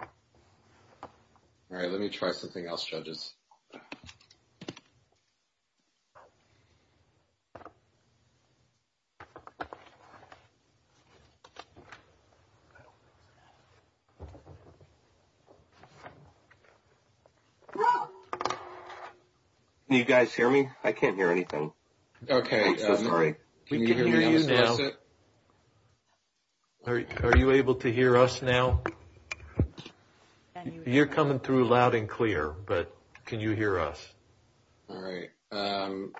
All right, let me try something else, judges. You guys hear me? I can't hear anything. Okay. I'm sorry. We can hear you now. Are you able to hear us now? You're coming through loud and clear, but can you hear us? All right. I'm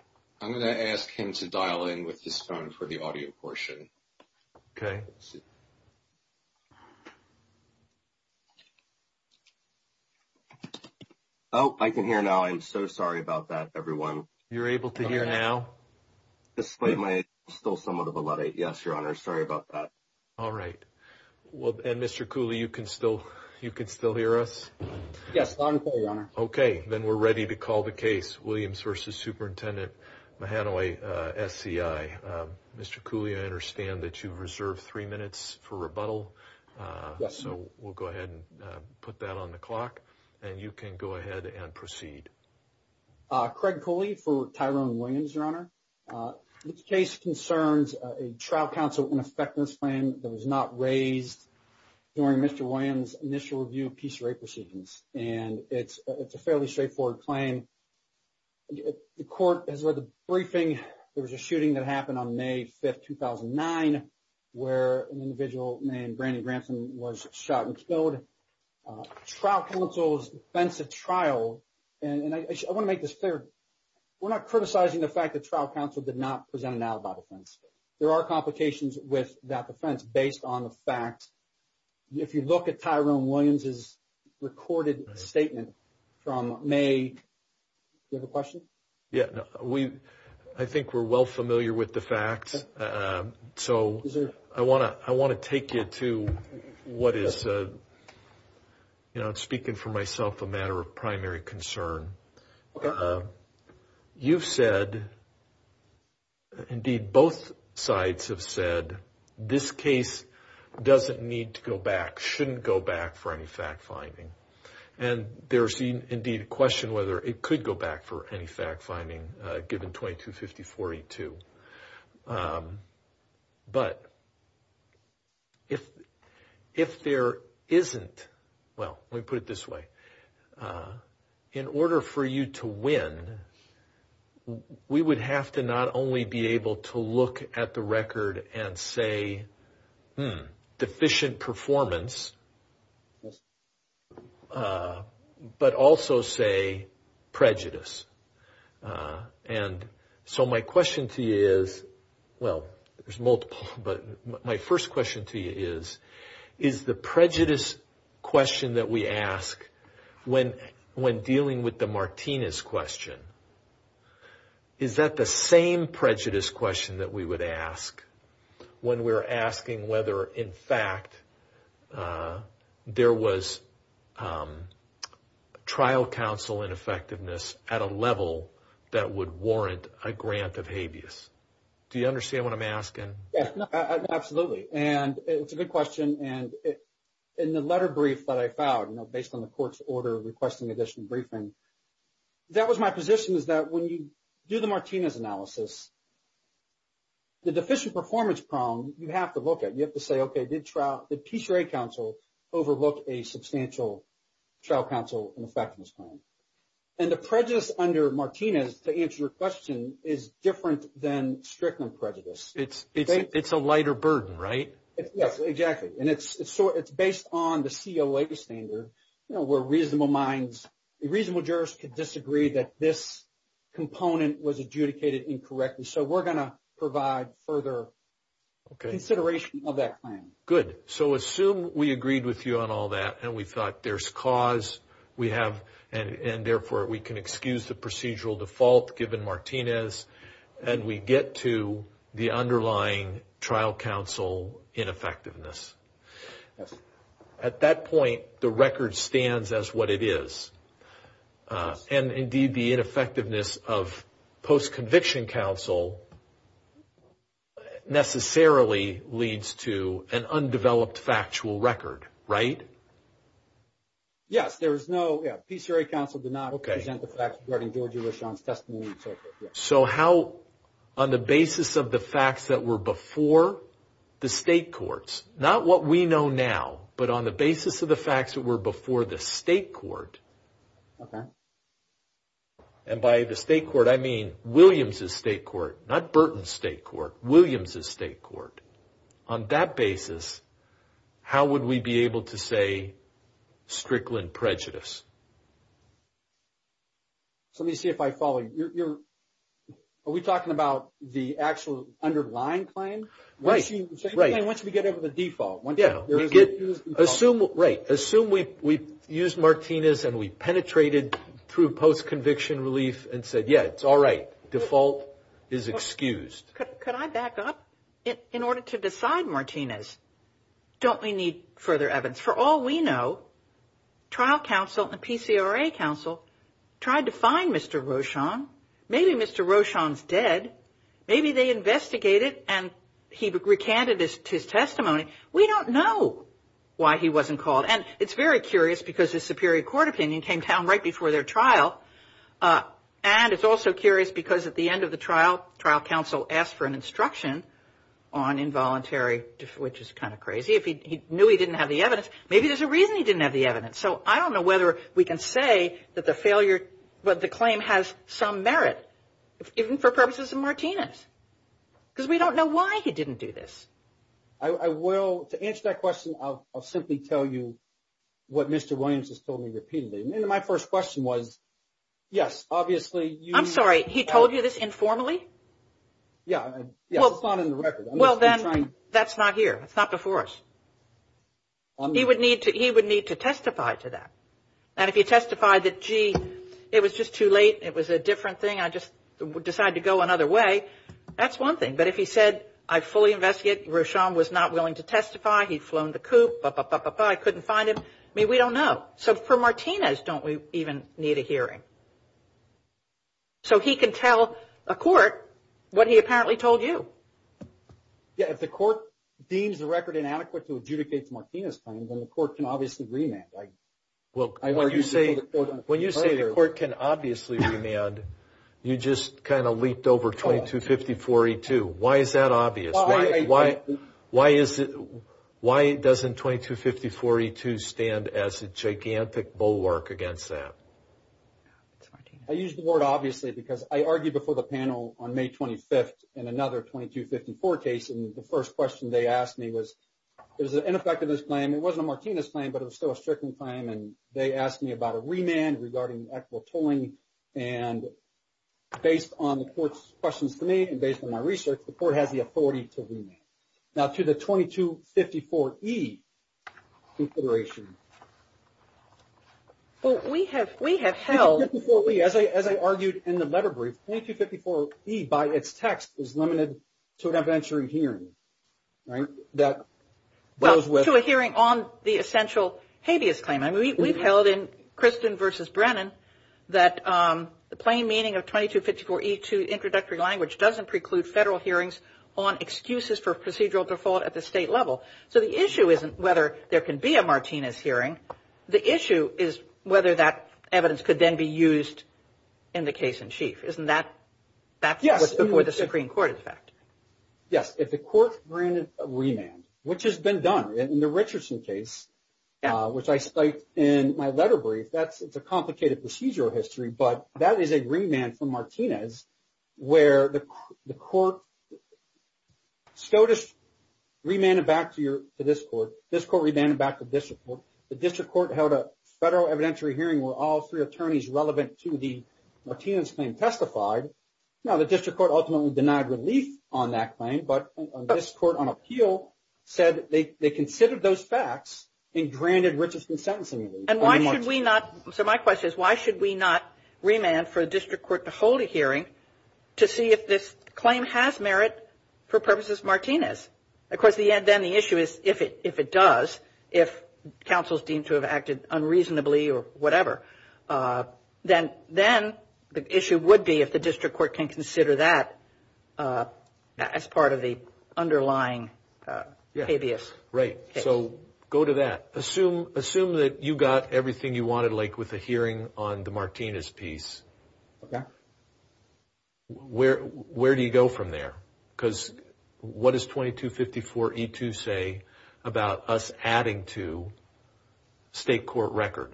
going to ask him to dial in with his phone for the audio portion. Okay. Oh, I can hear now. I'm so sorry about that, everyone. You're able to hear now? Despite my still somewhat of a lot. Yes, Your Honor. Sorry about that. All right. Well, and Mr. Cooley, you can still you can still hear us? Yes, loud and clear, Your Honor. Okay. Then we're ready to call the case. Williams v. Superintendent Mahanoy SCI. Mr. Cooley, I understand that you've reserved three minutes for rebuttal. Yes. So we'll go ahead and put that on the clock and you can go ahead and proceed. Craig Cooley for Tyrone Williams, Your Honor. This case concerns a trial counsel ineffectiveness plan that was not raised during Mr. Williams' initial review of piece of rape proceedings. And it's a fairly straightforward claim. The court has read the briefing. There was a shooting that happened on May 5th, 2009, where an individual named Brandi Granson was shot and killed. Trial counsel's defense of trial, and I want to make this clear, we're not criticizing the fact that trial counsel did not present an alibi defense. There are complications with that defense based on the facts. If you look at Tyrone Williams' recorded statement from May, do you have a question? Yeah. Yes. So I want to take you to what is, you know, speaking for myself, a matter of primary concern. You've said, indeed both sides have said, this case doesn't need to go back, shouldn't go back for any fact finding. And there's indeed a question whether it could go back for any fact finding given 2250-482. But if there isn't, well, let me put it this way. In order for you to win, we would have to not only be able to look at the record and say, hmm, deficient performance, but also say prejudice. And so my question to you is, well, there's multiple, but my first question to you is, is the prejudice question that we ask when dealing with the Martinez question, is that the same prejudice question that we would ask when we're asking whether, in fact, there was trial counsel ineffectiveness at a level that would warrant a grant of habeas? Do you understand what I'm asking? Absolutely. And it's a good question. And in the letter brief that I filed, you know, based on the court's order requesting additional briefing, that was my position, is that when you do the Martinez analysis, the deficient performance problem, you have to look at it. You have to say, okay, did PCRA counsel overlook a substantial trial counsel ineffectiveness claim? And the prejudice under Martinez, to answer your question, is different than strict on prejudice. It's a lighter burden, right? Yes, exactly. And it's based on the COA standard, you know, where reasonable minds, reasonable jurors could disagree that this component was adjudicated incorrectly. So we're going to provide further consideration of that claim. Okay. Good. So assume we agreed with you on all that and we thought there's cause, we have, and therefore we can excuse the procedural default given Martinez, and we get to the underlying trial counsel ineffectiveness. Yes. At that point, the record stands as what it is. Yes. And indeed, the ineffectiveness of post-conviction counsel necessarily leads to an undeveloped factual record, right? Yes. There is no, yeah, PCRA counsel did not present the facts regarding George Elishon's testimony and so forth, yes. So how, on the basis of the facts that were before the state courts, not what we know now, but on the basis of the facts that were before the state court, and by the state court I mean Williams' state court, not Burton's state court, Williams' state court, on that basis, how would we be able to say strickland prejudice? So let me see if I follow you. Are we talking about the actual underlying claim? Right. Once we get over the default. Yeah. Assume, right, assume we used Martinez and we penetrated through post-conviction relief and said, yeah, it's all right, default is excused. Could I back up? In order to decide Martinez, don't we need further evidence? For all we know, trial counsel and PCRA counsel tried to find Mr. Rochon. Maybe Mr. Rochon's dead. Maybe they investigated and he recanted his testimony. We don't know why he wasn't called. And it's very curious because his superior court opinion came down right before their trial, and it's also curious because at the end of the trial, trial counsel asked for an instruction on involuntary, which is kind of crazy. If he knew he didn't have the evidence, maybe there's a reason he didn't have the evidence. So I don't know whether we can say that the claim has some merit, even for purposes of Martinez, because we don't know why he didn't do this. I will, to answer that question, I'll simply tell you what Mr. Williams has told me repeatedly. My first question was, yes, obviously. I'm sorry, he told you this informally? Yeah, it's not in the record. Well, then that's not here. It's not before us. He would need to testify to that. And if he testified that, gee, it was just too late, it was a different thing, I just decided to go another way, that's one thing. But if he said, I fully investigate, Rochon was not willing to testify, he'd flown the coop, I couldn't find him, I mean, we don't know. So for Martinez, don't we even need a hearing? Right. So he can tell a court what he apparently told you. Yeah, if the court deems the record inadequate to adjudicate the Martinez claim, then the court can obviously remand, right? When you say the court can obviously remand, you just kind of leaped over 2250-4E2. Why is that obvious? Why doesn't 2250-4E2 stand as a gigantic bulwark against that? I use the word obviously because I argued before the panel on May 25th in another 2250-4 case, and the first question they asked me was, is it ineffective in this claim? It wasn't a Martinez claim, but it was still a Strickland claim, and they asked me about a remand regarding equitable tolling. And based on the court's questions to me and based on my research, the court has the right to remand. Now to the 2254-E consideration. Well, we have held... 2254-E, as I argued in the letter brief, 2254-E by its text is limited to an evidentiary hearing, right? That goes with... Well, to a hearing on the essential habeas claim. I mean, we've held in Kristen v. Brennan that the plain meaning of 2254-E2 introductory language doesn't preclude federal hearings on excuses for procedural default at the state level. So the issue isn't whether there can be a Martinez hearing. The issue is whether that evidence could then be used in the case in chief. Isn't that... Yes. That was before the Supreme Court, in fact. Yes. If the court granted a remand, which has been done in the Richardson case, which I cite in my letter brief, it's a complicated procedural history, but that is a remand from Martinez where the court... SCOTUS remanded back to this court. This court remanded back to this court. The district court held a federal evidentiary hearing where all three attorneys relevant to the Martinez claim testified. Now, the district court ultimately denied relief on that claim, but this court on appeal said they considered those facts and granted Richardson sentencing relief. And why should we not... To see if this claim has merit for purposes of Martinez. Of course, then the issue is if it does, if counsel is deemed to have acted unreasonably or whatever, then the issue would be if the district court can consider that as part of the underlying habeas case. Right. So go to that. Assume that you got everything you wanted, like with the hearing on the Martinez piece. Okay. Where do you go from there? Because what does 2254E2 say about us adding to state court record?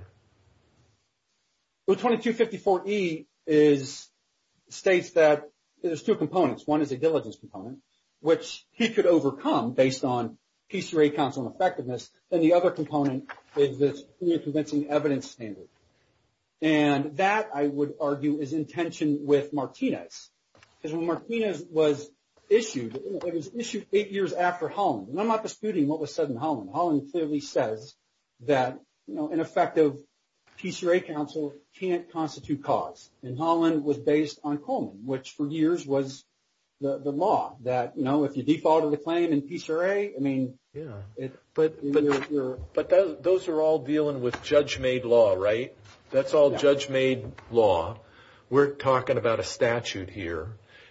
Well, 2254E states that there's two components. One is a diligence component, which he could overcome based on PCRA counsel effectiveness. And the other component is this clear convincing evidence standard. And that, I would argue, is in tension with Martinez. Because when Martinez was issued, it was issued eight years after Holland. And I'm not disputing what was said in Holland. Holland clearly says that an effective PCRA counsel can't constitute cause. And Holland was based on Coleman, which for years was the law that if you defaulted the claim in PCRA, I mean... But those are all dealing with judge-made law, right? That's all judge-made law. We're talking about a statute here.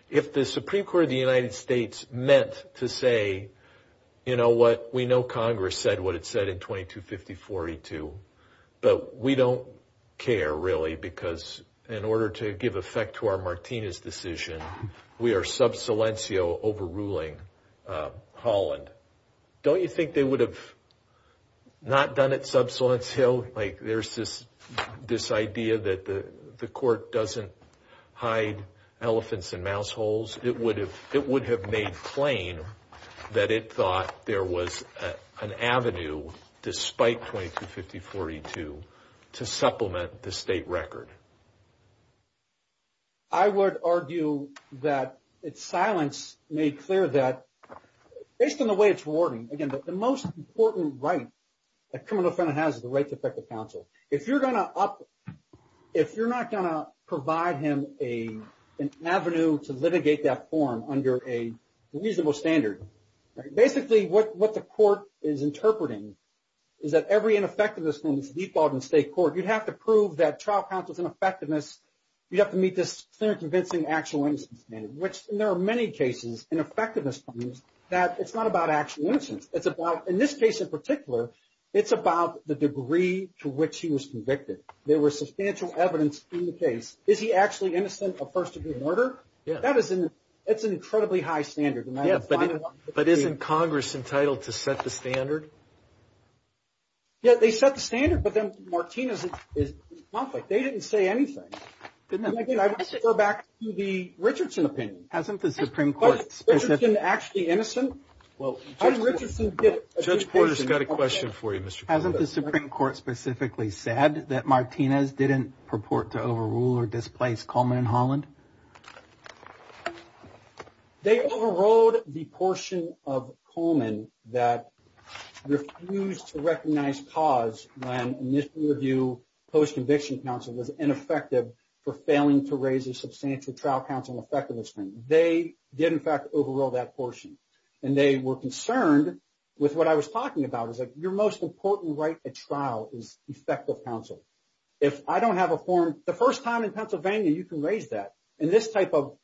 If the Supreme Court of the United States meant to say, you know what? We know Congress said what it said in 2254E2. But we don't care, really, because in order to give effect to our Martinez decision, we are sub silencio overruling Holland. Don't you think they would have not done it sub silencio? Like, there's this idea that the court doesn't hide elephants in mouse holes. It would have made plain that it thought there was an avenue, despite 2254E2, to supplement the state record. I would argue that it's silence made clear that, based on the way it's rewarding, again, the most important right a criminal defendant has is the right to effective counsel. If you're not going to provide him an avenue to litigate that form under a reasonable standard, basically what the court is interpreting is that every ineffectiveness in this default in state court, you'd have to prove that trial counsel's ineffectiveness, you'd have to meet this standard convincing actual innocence standard. Which, there are many cases in effectiveness that it's not about actual innocence. It's about, in this case in particular, it's about the degree to which he was convicted. There was substantial evidence in the case. Is he actually innocent of first degree murder? It's an incredibly high standard. But isn't Congress entitled to set the standard? Yeah, they set the standard, but then Martinez is in conflict. They didn't say anything. And again, I would refer back to the Richardson opinion. Hasn't the Supreme Court specifically... Isn't Richardson actually innocent? How did Richardson get... Judge Porter's got a question for you, Mr. Porter. Hasn't the Supreme Court specifically said that Martinez didn't purport to overrule or displace Coleman and Holland? They overruled the portion of Coleman that refused to recognize cause when initial review post-conviction counsel was ineffective for failing to raise a substantial trial counsel effectiveness. They did, in fact, overrule that portion. And they were concerned with what I was talking about. It's like, your most important right at trial is effective counsel. If I don't have a form... The first time in Pennsylvania you can raise that. In this type of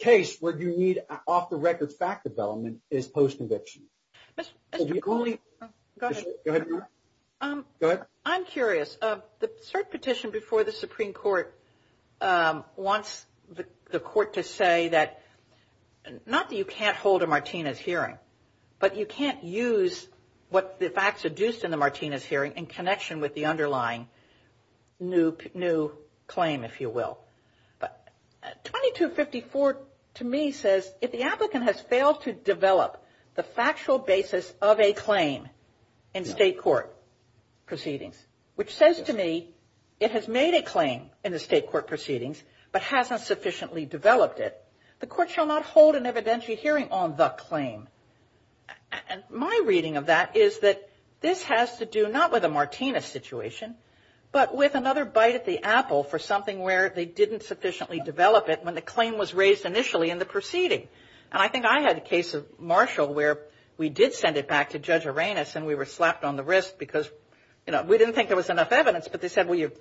case where you need off-the-record fact development is post-conviction. Mr. Coleman... Go ahead. I'm curious. The cert petition before the Supreme Court wants the court to say that... Not that you can't hold a Martinez hearing, but you can't use what the facts adduced in the Martinez hearing in connection with the underlying new claim, if you will. But 2254 to me says, if the applicant has failed to develop the factual basis of a claim in state court proceedings, which says to me, it has made a claim in the state court proceedings, but hasn't sufficiently developed it, the court shall not hold an evidentiary hearing on the claim. My reading of that is that this has to do not with a Martinez situation, but with another bite at the apple for something where they didn't sufficiently develop it when the claim was raised initially in the proceeding. And I think I had a case of Marshall where we did send it back to Judge Arenas and we were slapped on the wrist because, you know, we didn't think there was enough evidence, but they said, well, you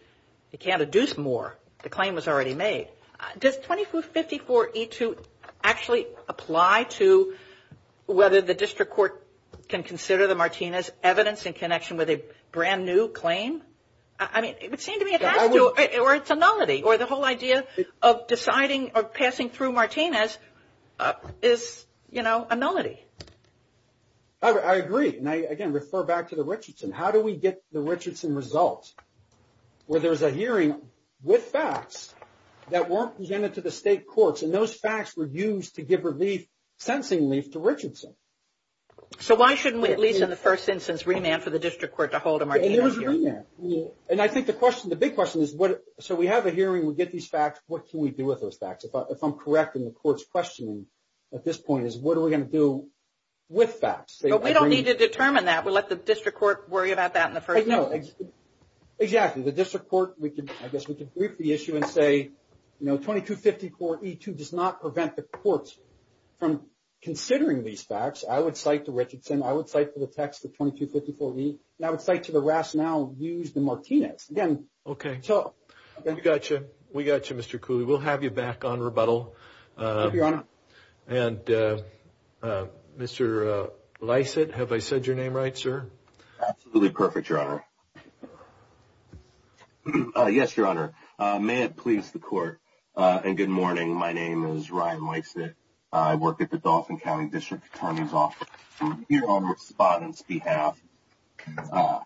can't adduce more. The claim was already made. Does 2254E2 actually apply to whether the district court can consider the Martinez evidence in connection with a brand new claim? I mean, it would seem to me it has to, or it's a nullity, or the whole idea of deciding or passing through Martinez is, you know, a nullity. I agree. And I, again, refer back to the Richardson. How do we get the Richardson result where there's a hearing with facts that weren't presented to the state courts and those facts were used to give relief, sentencing relief to Richardson? So why shouldn't we at least in the first instance remand for the district court to hold a Martinez hearing? And there was a remand. And I think the question, the big question is, so we have a hearing, we get these facts, what can we do with those facts? If I'm correct in the court's questioning at this point is, what are we going to do with facts? We don't need to determine that. We'll let the district court worry about that in the first instance. Exactly. The district court, I guess we could brief the issue and say, you know, 2254E2 does not prevent the courts from considering these facts. I would cite the Richardson. I would cite the text of 2254E. And I would cite to the rationale used in Martinez. Again, so... Okay. We got you. We got you, Mr. Cooley. We'll have you back on rebuttal. Thank you, Your Honor. And Mr. Lysett, have I said your name right, sir? Absolutely perfect, Your Honor. Yes, Your Honor. May it please the court and good morning. My name is Ryan Lysett. I work at the Dauphin County District Attorney's Office. I'm here on the respondent's behalf.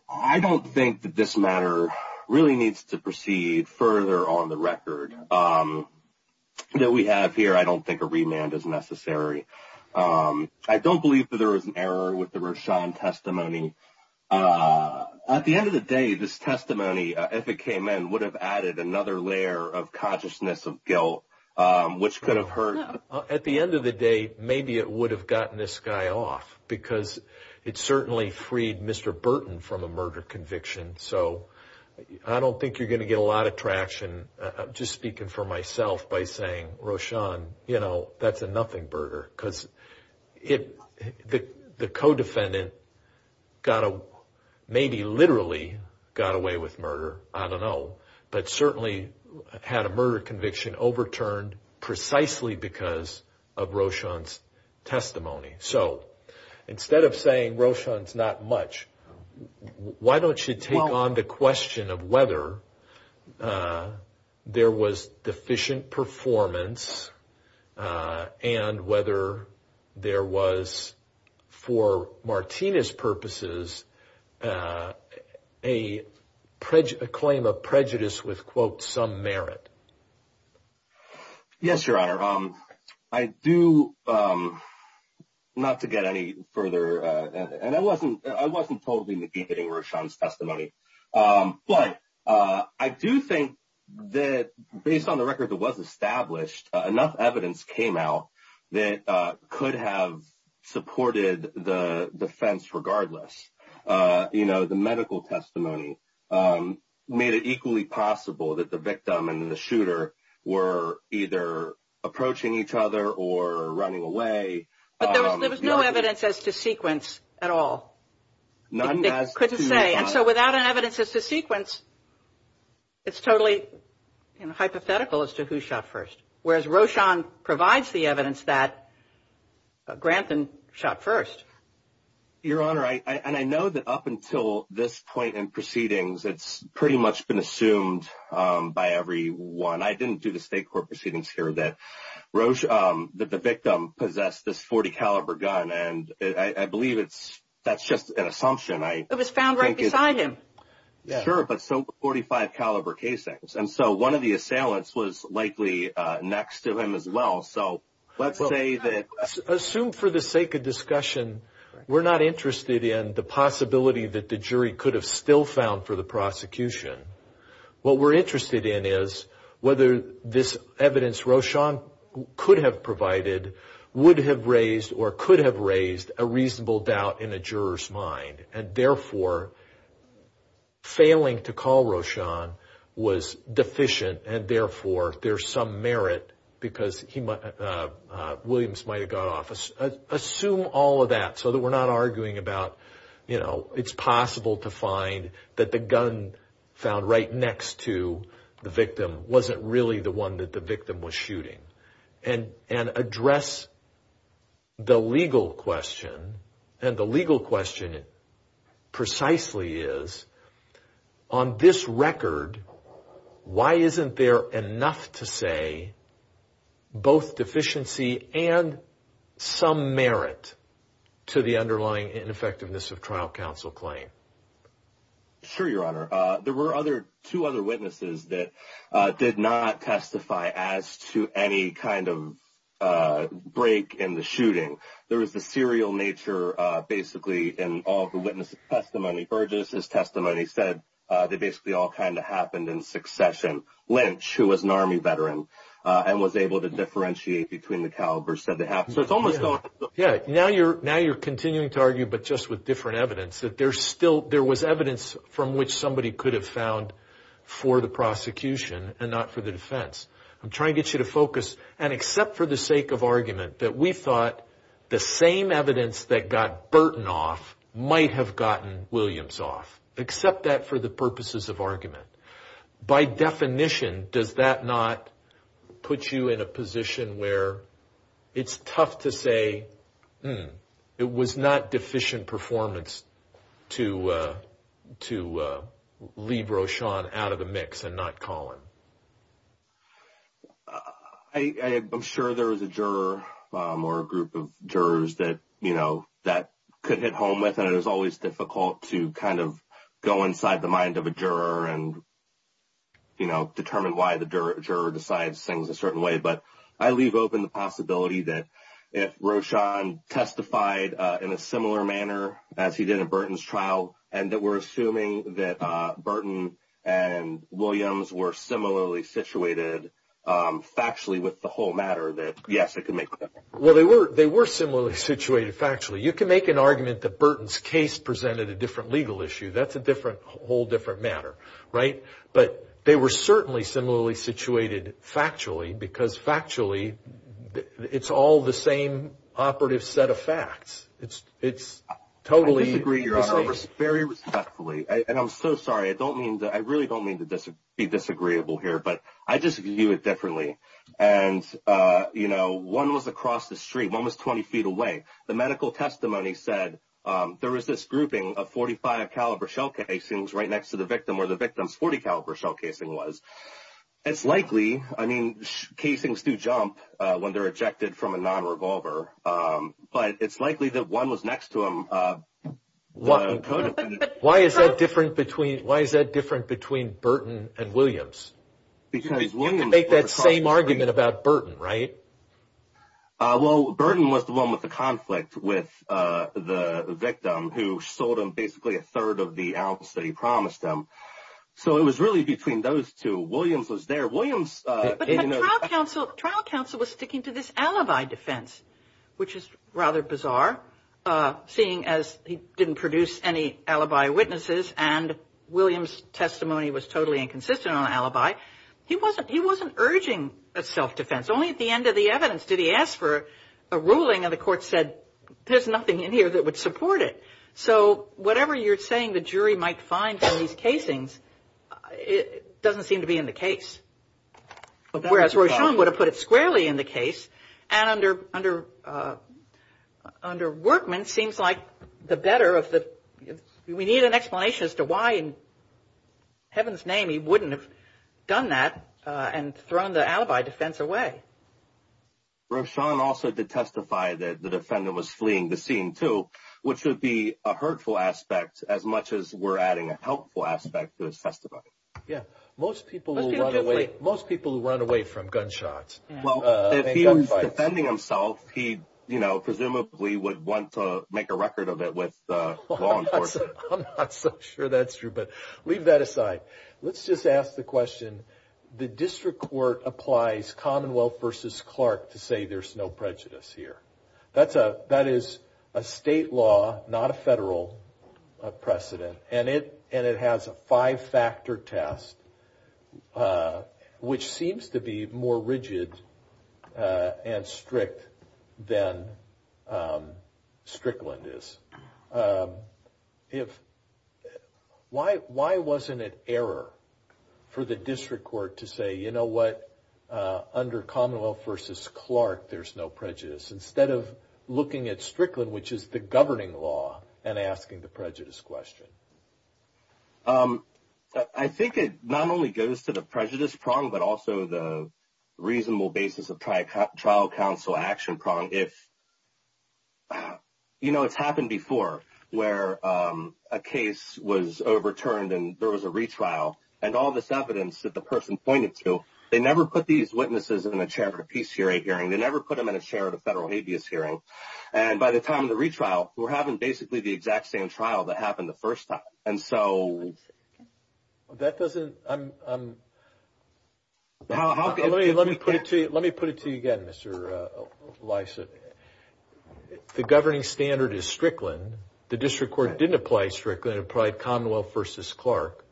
I don't think that this matter really needs to proceed further on the record that we have here. I don't think a remand is necessary. I don't believe that there was an error with the Roshan testimony. At the end of the day, this testimony, if it came in, it would have added another layer of consciousness of guilt which could have hurt. At the end of the day, maybe it would have gotten this guy off because it certainly freed Mr. Burton from a murder conviction. So I don't think you're going to get a lot of traction. I'm just speaking for myself by saying, Roshan, you know, that's a nothing murder. Because the co-defendant maybe literally got away with murder. I don't know. But certainly had a murder conviction overturned precisely because of Roshan's testimony. So instead of saying Roshan's not much, why don't you take on the question of whether there was deficient performance and whether there was, for Martina's purposes, a claim of prejudice with, quote, some merit. Yes, Your Honor. I do, not to get any further, and I wasn't totally negating Roshan's testimony. But I do think that based on the record that was established, enough evidence came out that could have supported the defense regardless. You know, the medical testimony made it equally possible that the victim and the shooter were either approaching each other or running away. But there was no evidence as to sequence at all. None as to... You couldn't say. And so without an evidence as to sequence, it's totally, you Whereas Roshan provides the evidence that Grantham shot first. Your Honor, and I know that up until this point in proceedings, it's pretty much been assumed by everyone. I didn't do the state court proceedings here that the victim possessed this .40 caliber gun. And I believe that's just an assumption. It was found right beside him. Sure, but so were .45 caliber casings. And so one of the assailants was likely next to him as well. So let's say that... Assume for the sake of discussion, we're not interested in the possibility that the jury could have still found for the prosecution. What we're interested in is whether this evidence Roshan could have provided would have raised or could have raised a reasonable doubt in a juror's mind. And therefore, failing to call Roshan was deficient. And therefore, there's some merit because Williams might have got off. Assume all of that so that we're not arguing about, you know, it's possible to find that the gun found right next to the victim wasn't really the one that the victim was shooting. And the legal question is, why was Roshan shot? Precisely is, on this record, why isn't there enough to say both deficiency and some merit to the underlying ineffectiveness of trial counsel claim? Sure, Your Honor. There were two other witnesses that did not testify as to any kind of break in the shooting. There was the serial nature, basically, in all the witnesses' testimony. Burgess' testimony said they basically all kind of happened in succession. Lynch, who was an Army veteran and was able to differentiate between the calibers, said they have. So it's almost... Yeah. Now you're continuing to argue, but just with different evidence, that there's still, there was evidence from which somebody could have found for the prosecution and not for the defense. I'm trying to get you to focus. And accept for the sake of argument that we thought the same evidence that got Burton off might have gotten Williams off. Accept that for the purposes of argument. By definition, does that not put you in a position where it's tough to say, hmm, it was not deficient performance to leave Roshan out of the mix and not call him? I'm sure there is a juror or a group of jurors that, you know, that could hit home with. And it is always difficult to kind of go inside the mind of a juror and, you know, determine why the juror decides things a certain way. But I leave open the possibility that if Roshan testified in a similar manner as he did at Burton's trial and that we're similarly situated factually with the whole matter, that yes, it could make a difference. Well, they were similarly situated factually. You can make an argument that Burton's case presented a different legal issue. That's a whole different matter, right? But they were certainly similarly situated factually because factually, it's all the same operative set of facts. It's totally... I disagree, Your Honor, very respectfully. And I'm so sorry. I don't mean to... I really don't mean to be disagreeable here. But I just view it differently. And, you know, one was across the street. One was 20 feet away. The medical testimony said there was this grouping of .45 caliber shell casings right next to the victim where the victim's .40 caliber shell casing was. It's likely, I mean, casings do jump when they're ejected from a non-revolver. But it's likely that one was next to him. Why is that different between Burton and Williams? You can make that same argument about Burton, right? Well, Burton was the one with the conflict with the victim who sold him basically a third of the ounce that he promised him. So it was really between those two. Williams was there. But the trial counsel was sticking to this alibi defense, which is rather bizarre seeing as he didn't produce any alibi witnesses and Williams' testimony was totally inconsistent on alibi. He wasn't urging a self-defense. Only at the end of the evidence did he ask for a ruling and the court said there's nothing in here that would support it. So whatever you're saying the jury might find in these casings doesn't seem to be in the case. Whereas Rochon would have put it squarely in the case. And under Workman seems like the better of the we need an explanation as to why in heaven's name he wouldn't have done that and thrown the alibi defense away. Rochon also did testify that the defendant was fleeing the scene too, which would be a hurtful aspect as much as we're adding a helpful aspect to his testimony. Yeah. Most people who run away from gunshots. Well, if he was defending himself, he, you know, presumably would want to make a record of it with law enforcement. I'm not so sure that's true, but leave that aside. Let's just ask the question. The district court applies Commonwealth versus Clark to say there's no prejudice here. That's a, that is a state law, not a federal precedent. And it, and it has a five factor test, which seems to be more rigid and strict than Strickland is. If why, why wasn't it error for the district court to say, you know what? Under Commonwealth versus Clark, there's no prejudice. Instead of looking at Strickland, which is the governing law and asking the prejudice question. I think it not only goes to the prejudice prong, but also the reasonable basis of trial trial council action prong. If you know, it's happened before where a case was overturned and there was a retrial and all this evidence that the person pointed to, they never put these witnesses in a chair for PCA hearing. They never put them in a chair at a federal habeas hearing. And by the time of the retrial, we're having basically the exact same trial that happened the first time. And so that doesn't, I'm, I'm. Let me, let me put it to you. Let me put it to you again, Mr. Lyson. The governing standard is Strickland. The district court didn't apply Strickland applied Commonwealth versus Clark.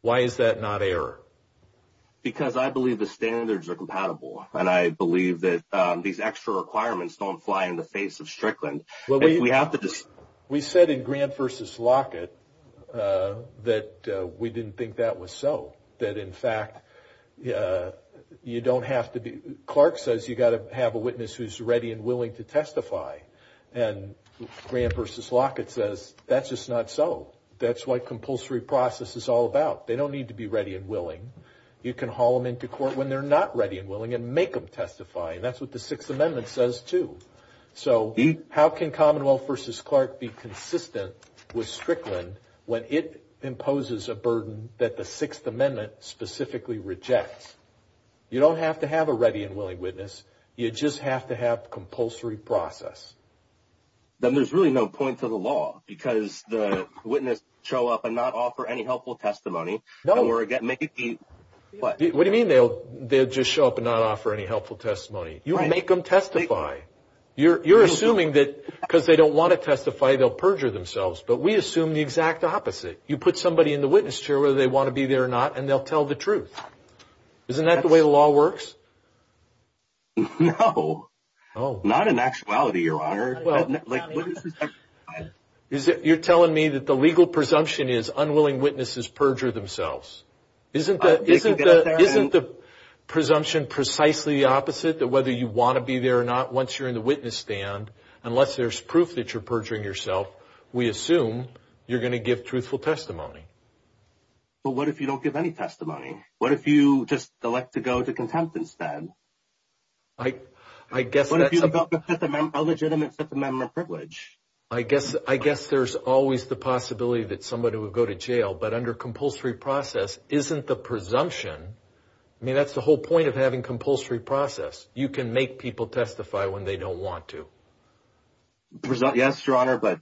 Why is that not error? Because I believe the standards are compatible. And I believe that these extra requirements don't fly in the face of We said in grand versus Lockett that we didn't think that was so that in fact, yeah, you don't have to be. Clark says you gotta have a witness who's ready and willing to testify and grand versus Lockett says, that's just not. So that's what compulsory process is all about. They don't need to be ready and willing. You can haul them into court when they're not ready and willing and make them testify. And that's what the sixth amendment says too. So how can Commonwealth versus Clark be consistent with Strickland when it imposes a burden that the sixth amendment specifically rejects, you don't have to have a ready and willing witness. You just have to have compulsory process. Then there's really no point to the law because the witness show up and not offer any helpful testimony. Don't worry. Get Mickey. What do you mean? They'll, they'll just show up and not offer any helpful testimony. You make them testify. You're, you're assuming that because they don't want to testify, they'll perjure themselves, but we assume the exact opposite. You put somebody in the witness chair, whether they want to be there or not, and they'll tell the truth. Isn't that the way the law works? No. Oh, not in actuality. Your honor. Well, you're telling me that the legal presumption is unwilling witnesses perjure themselves. Isn't that, isn't that, isn't the presumption precisely the opposite that whether you want to be there or not, once you're in the witness stand, unless there's proof that you're perjuring yourself, we assume you're going to give truthful testimony. But what if you don't give any testimony? What if you just elect to go to contempt instead? I, I guess that's. What if you develop a Fifth Amendment, a legitimate Fifth Amendment privilege? I guess, I guess there's always the possibility that somebody would go to jail, but under compulsory process isn't the presumption. I mean, that's the whole point of having compulsory process. You can make people testify when they don't want to. Yes, your honor. But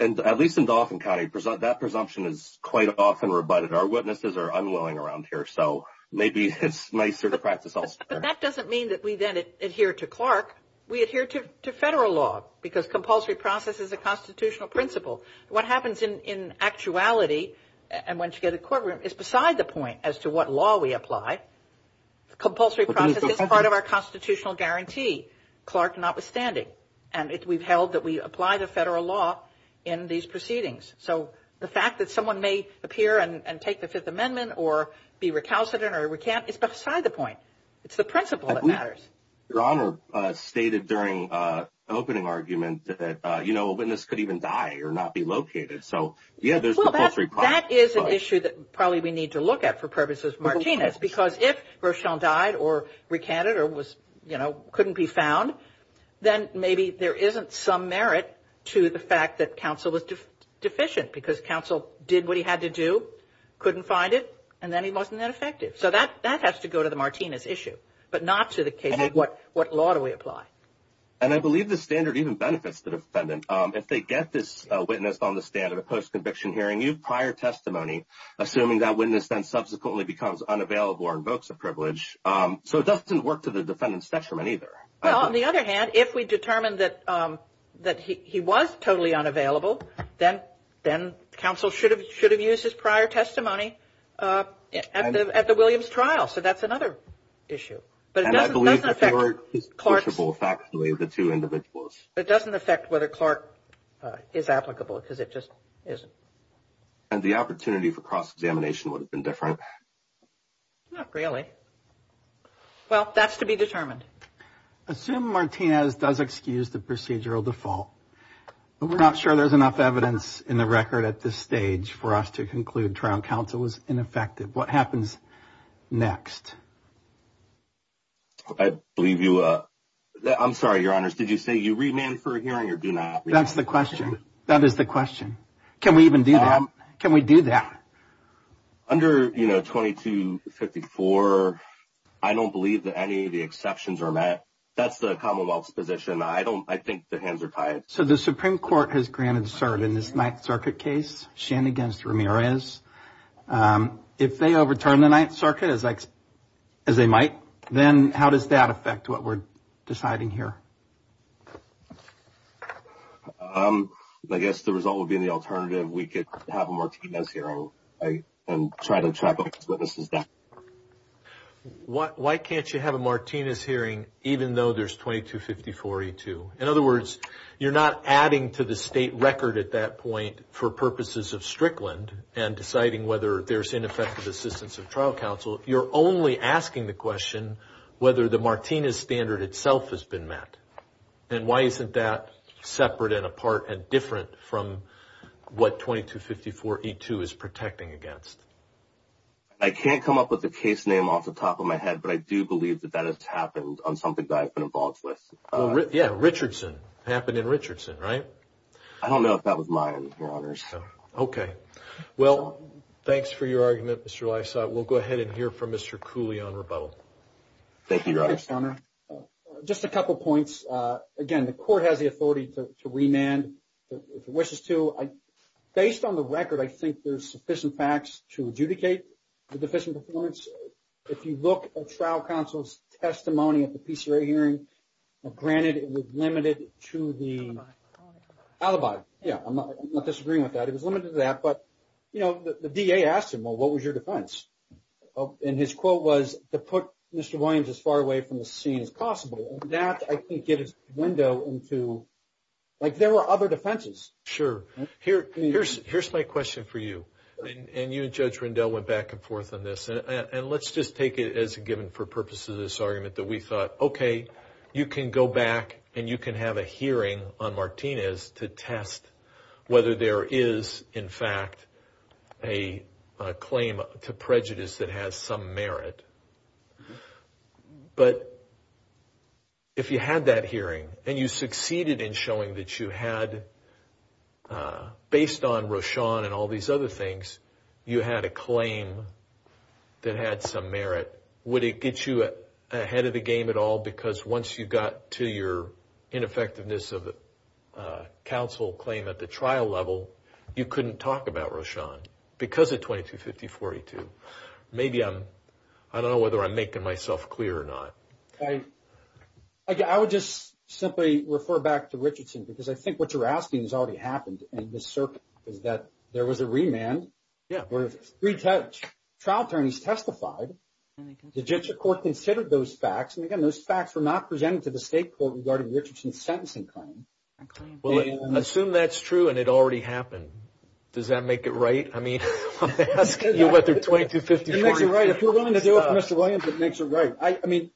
at least in Dauphin County, that presumption is quite often rebutted. Our witnesses are unwilling around here. So maybe it's nicer to practice elsewhere. But that doesn't mean that we then adhere to Clark. We adhere to federal law because compulsory process is a constitutional principle. What happens in actuality and once you get a courtroom is beside the point as to what law we apply. Compulsory process is part of our constitutional guarantee, Clark notwithstanding. And we've held that we apply the federal law in these proceedings. So the fact that someone may appear and take the Fifth Amendment or be recalcitrant or recant is beside the point. It's the principle that matters. Your honor stated during opening argument that, you know, a witness could even die or not be located. So, yeah, there's compulsory process. That is an issue that probably we need to look at for purposes of Martinez because if Rochon died or recanted or was, you know, couldn't be found, then maybe there isn't some merit to the fact that counsel was deficient because counsel did what he had to do, couldn't find it, and then he wasn't that effective. So that has to go to the Martinez issue, but not to the case of what law do we apply. And I believe the standard even benefits the defendant. If they get this witness on the stand at a post-conviction hearing, you have prior testimony assuming that witness then subsequently becomes unavailable or invokes a privilege. So it doesn't work to the defendant's detriment either. Well, on the other hand, if we determine that he was totally unavailable, then counsel should have used his prior testimony at the Williams trial. So that's another issue. And I believe the court is pushable factually with the two individuals. It doesn't affect whether Clark is applicable because it just isn't. And the opportunity for cross-examination would have been different. Not really. Well, that's to be determined. Assume Martinez does excuse the procedural default. We're not sure there's enough evidence in the record at this stage for us to conclude trial counsel was ineffective. What happens next? I believe you – I'm sorry, Your Honors. Did you say you remand for a hearing or do not? That's the question. That is the question. Can we even do that? Can we do that? Under, you know, 2254, I don't believe that any of the exceptions are met. That's the Commonwealth's position. I don't – I think the hands are tied. So the Supreme Court has granted cert in this Ninth Circuit case, Shand against Ramirez. If they overturn the Ninth Circuit, as they might, then how does that affect what we're deciding here? I guess the result would be in the alternative. We could have a Martinez hearing and try to trap witnesses down. Why can't you have a Martinez hearing even though there's 2254-E2? In other words, you're not adding to the state record at that point for purposes of Strickland and deciding whether there's ineffective assistance of trial counsel. You're only asking the question whether the Martinez standard itself has been met. And why isn't that separate and apart and different from what 2254-E2 is protecting against? I can't come up with a case name off the top of my head, but I do believe that that has happened on something that I've been involved with. Yeah, Richardson. Happened in Richardson, right? I don't know if that was mine, Your Honors. Okay. Well, thanks for your argument, Mr. Lysot. We'll go ahead and hear from Mr. Cooley on rebuttal. Thank you, Your Honor. Just a couple points. Again, the court has the authority to remand if it wishes to. Based on the record, I think there's sufficient facts to adjudicate the deficient performance. If you look at trial counsel's testimony at the PCRA hearing, granted it was limited to the alibi. Yeah, I'm not disagreeing with that. It was limited to that. But, you know, the DA asked him, well, what was your defense? And his quote was, to put Mr. Williams as far away from the scene as possible. And that, I think, gave us a window into, like, there were other defenses. Sure. Here's my question for you. And you and Judge Rendell went back and forth on this. And let's just take it as a given for purposes of this argument that we thought, okay, you can go back and you can have a hearing on Martinez to test whether there is, in fact, a claim to prejudice that has some merit. But if you had that hearing and you succeeded in showing that you had, based on Rochon and all these other things, you had a claim that had some merit, would it get you ahead of the game at all? Because once you got to your ineffectiveness of the counsel claim at the trial level, you couldn't talk about Rochon because of 2250-42. Maybe I'm, I don't know whether I'm making myself clear or not. I would just simply refer back to Richardson because I think what you're asking has already happened in this circuit, is that there was a remand where three trial attorneys testified. Legitimate court considered those facts. And, again, those facts were not presented to the state court regarding Richardson's sentencing claim. Assume that's true and it already happened. Does that make it right? I mean, I'm asking you whether 2250-42. It makes it right. If you're willing to do it for Mr. Williams, it makes it right. I mean,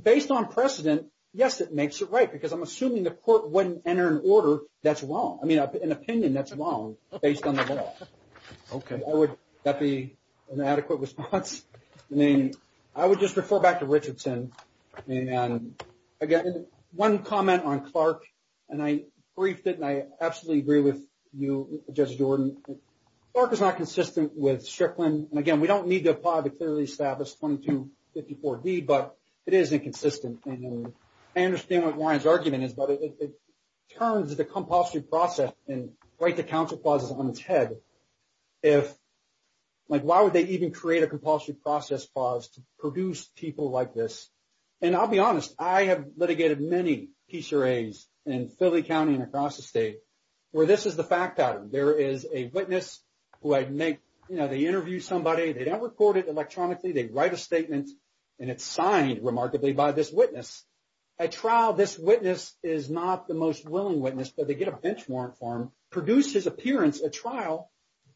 based on precedent, yes, it makes it right because I'm assuming the court wouldn't enter an order that's wrong, I mean, an opinion that's wrong based on the law. Okay. Would that be an adequate response? I mean, I would just refer back to Richardson. And, again, one comment on Clark, and I briefed it and I absolutely agree with you, Judge Jordan. Clark is not consistent with Strickland. And, again, we don't need to apply the clearly established 2250-4D, but it is inconsistent. I understand what Ryan's argument is, but it turns the compulsory process and write the counsel clauses on its head. If, like, why would they even create a compulsory process clause to produce people like this? And I'll be honest. I have litigated many PCRAs in Philly County and across the state where this is the fact item. There is a witness who I make, you know, they interview somebody. They don't report it electronically. They write a statement, and it's signed remarkably by this witness. At trial, this witness is not the most willing witness, but they get a bench warrant for him, produce his appearance at trial,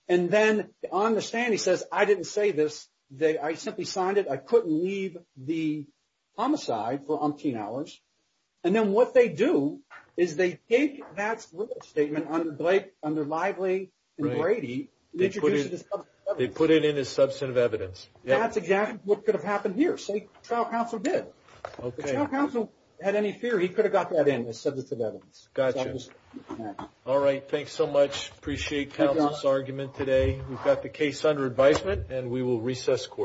and then on the stand he says, I didn't say this. I simply signed it. I couldn't leave the homicide for umpteen hours. And then what they do is they take that statement under Lively and Brady. They put it in as substantive evidence. That's exactly what could have happened here. State trial counsel did. Okay. If trial counsel had any fear, he could have got that in as substantive evidence. Gotcha. All right. Thanks so much. Appreciate counsel's argument today. We've got the case under advisement, and we will recess court.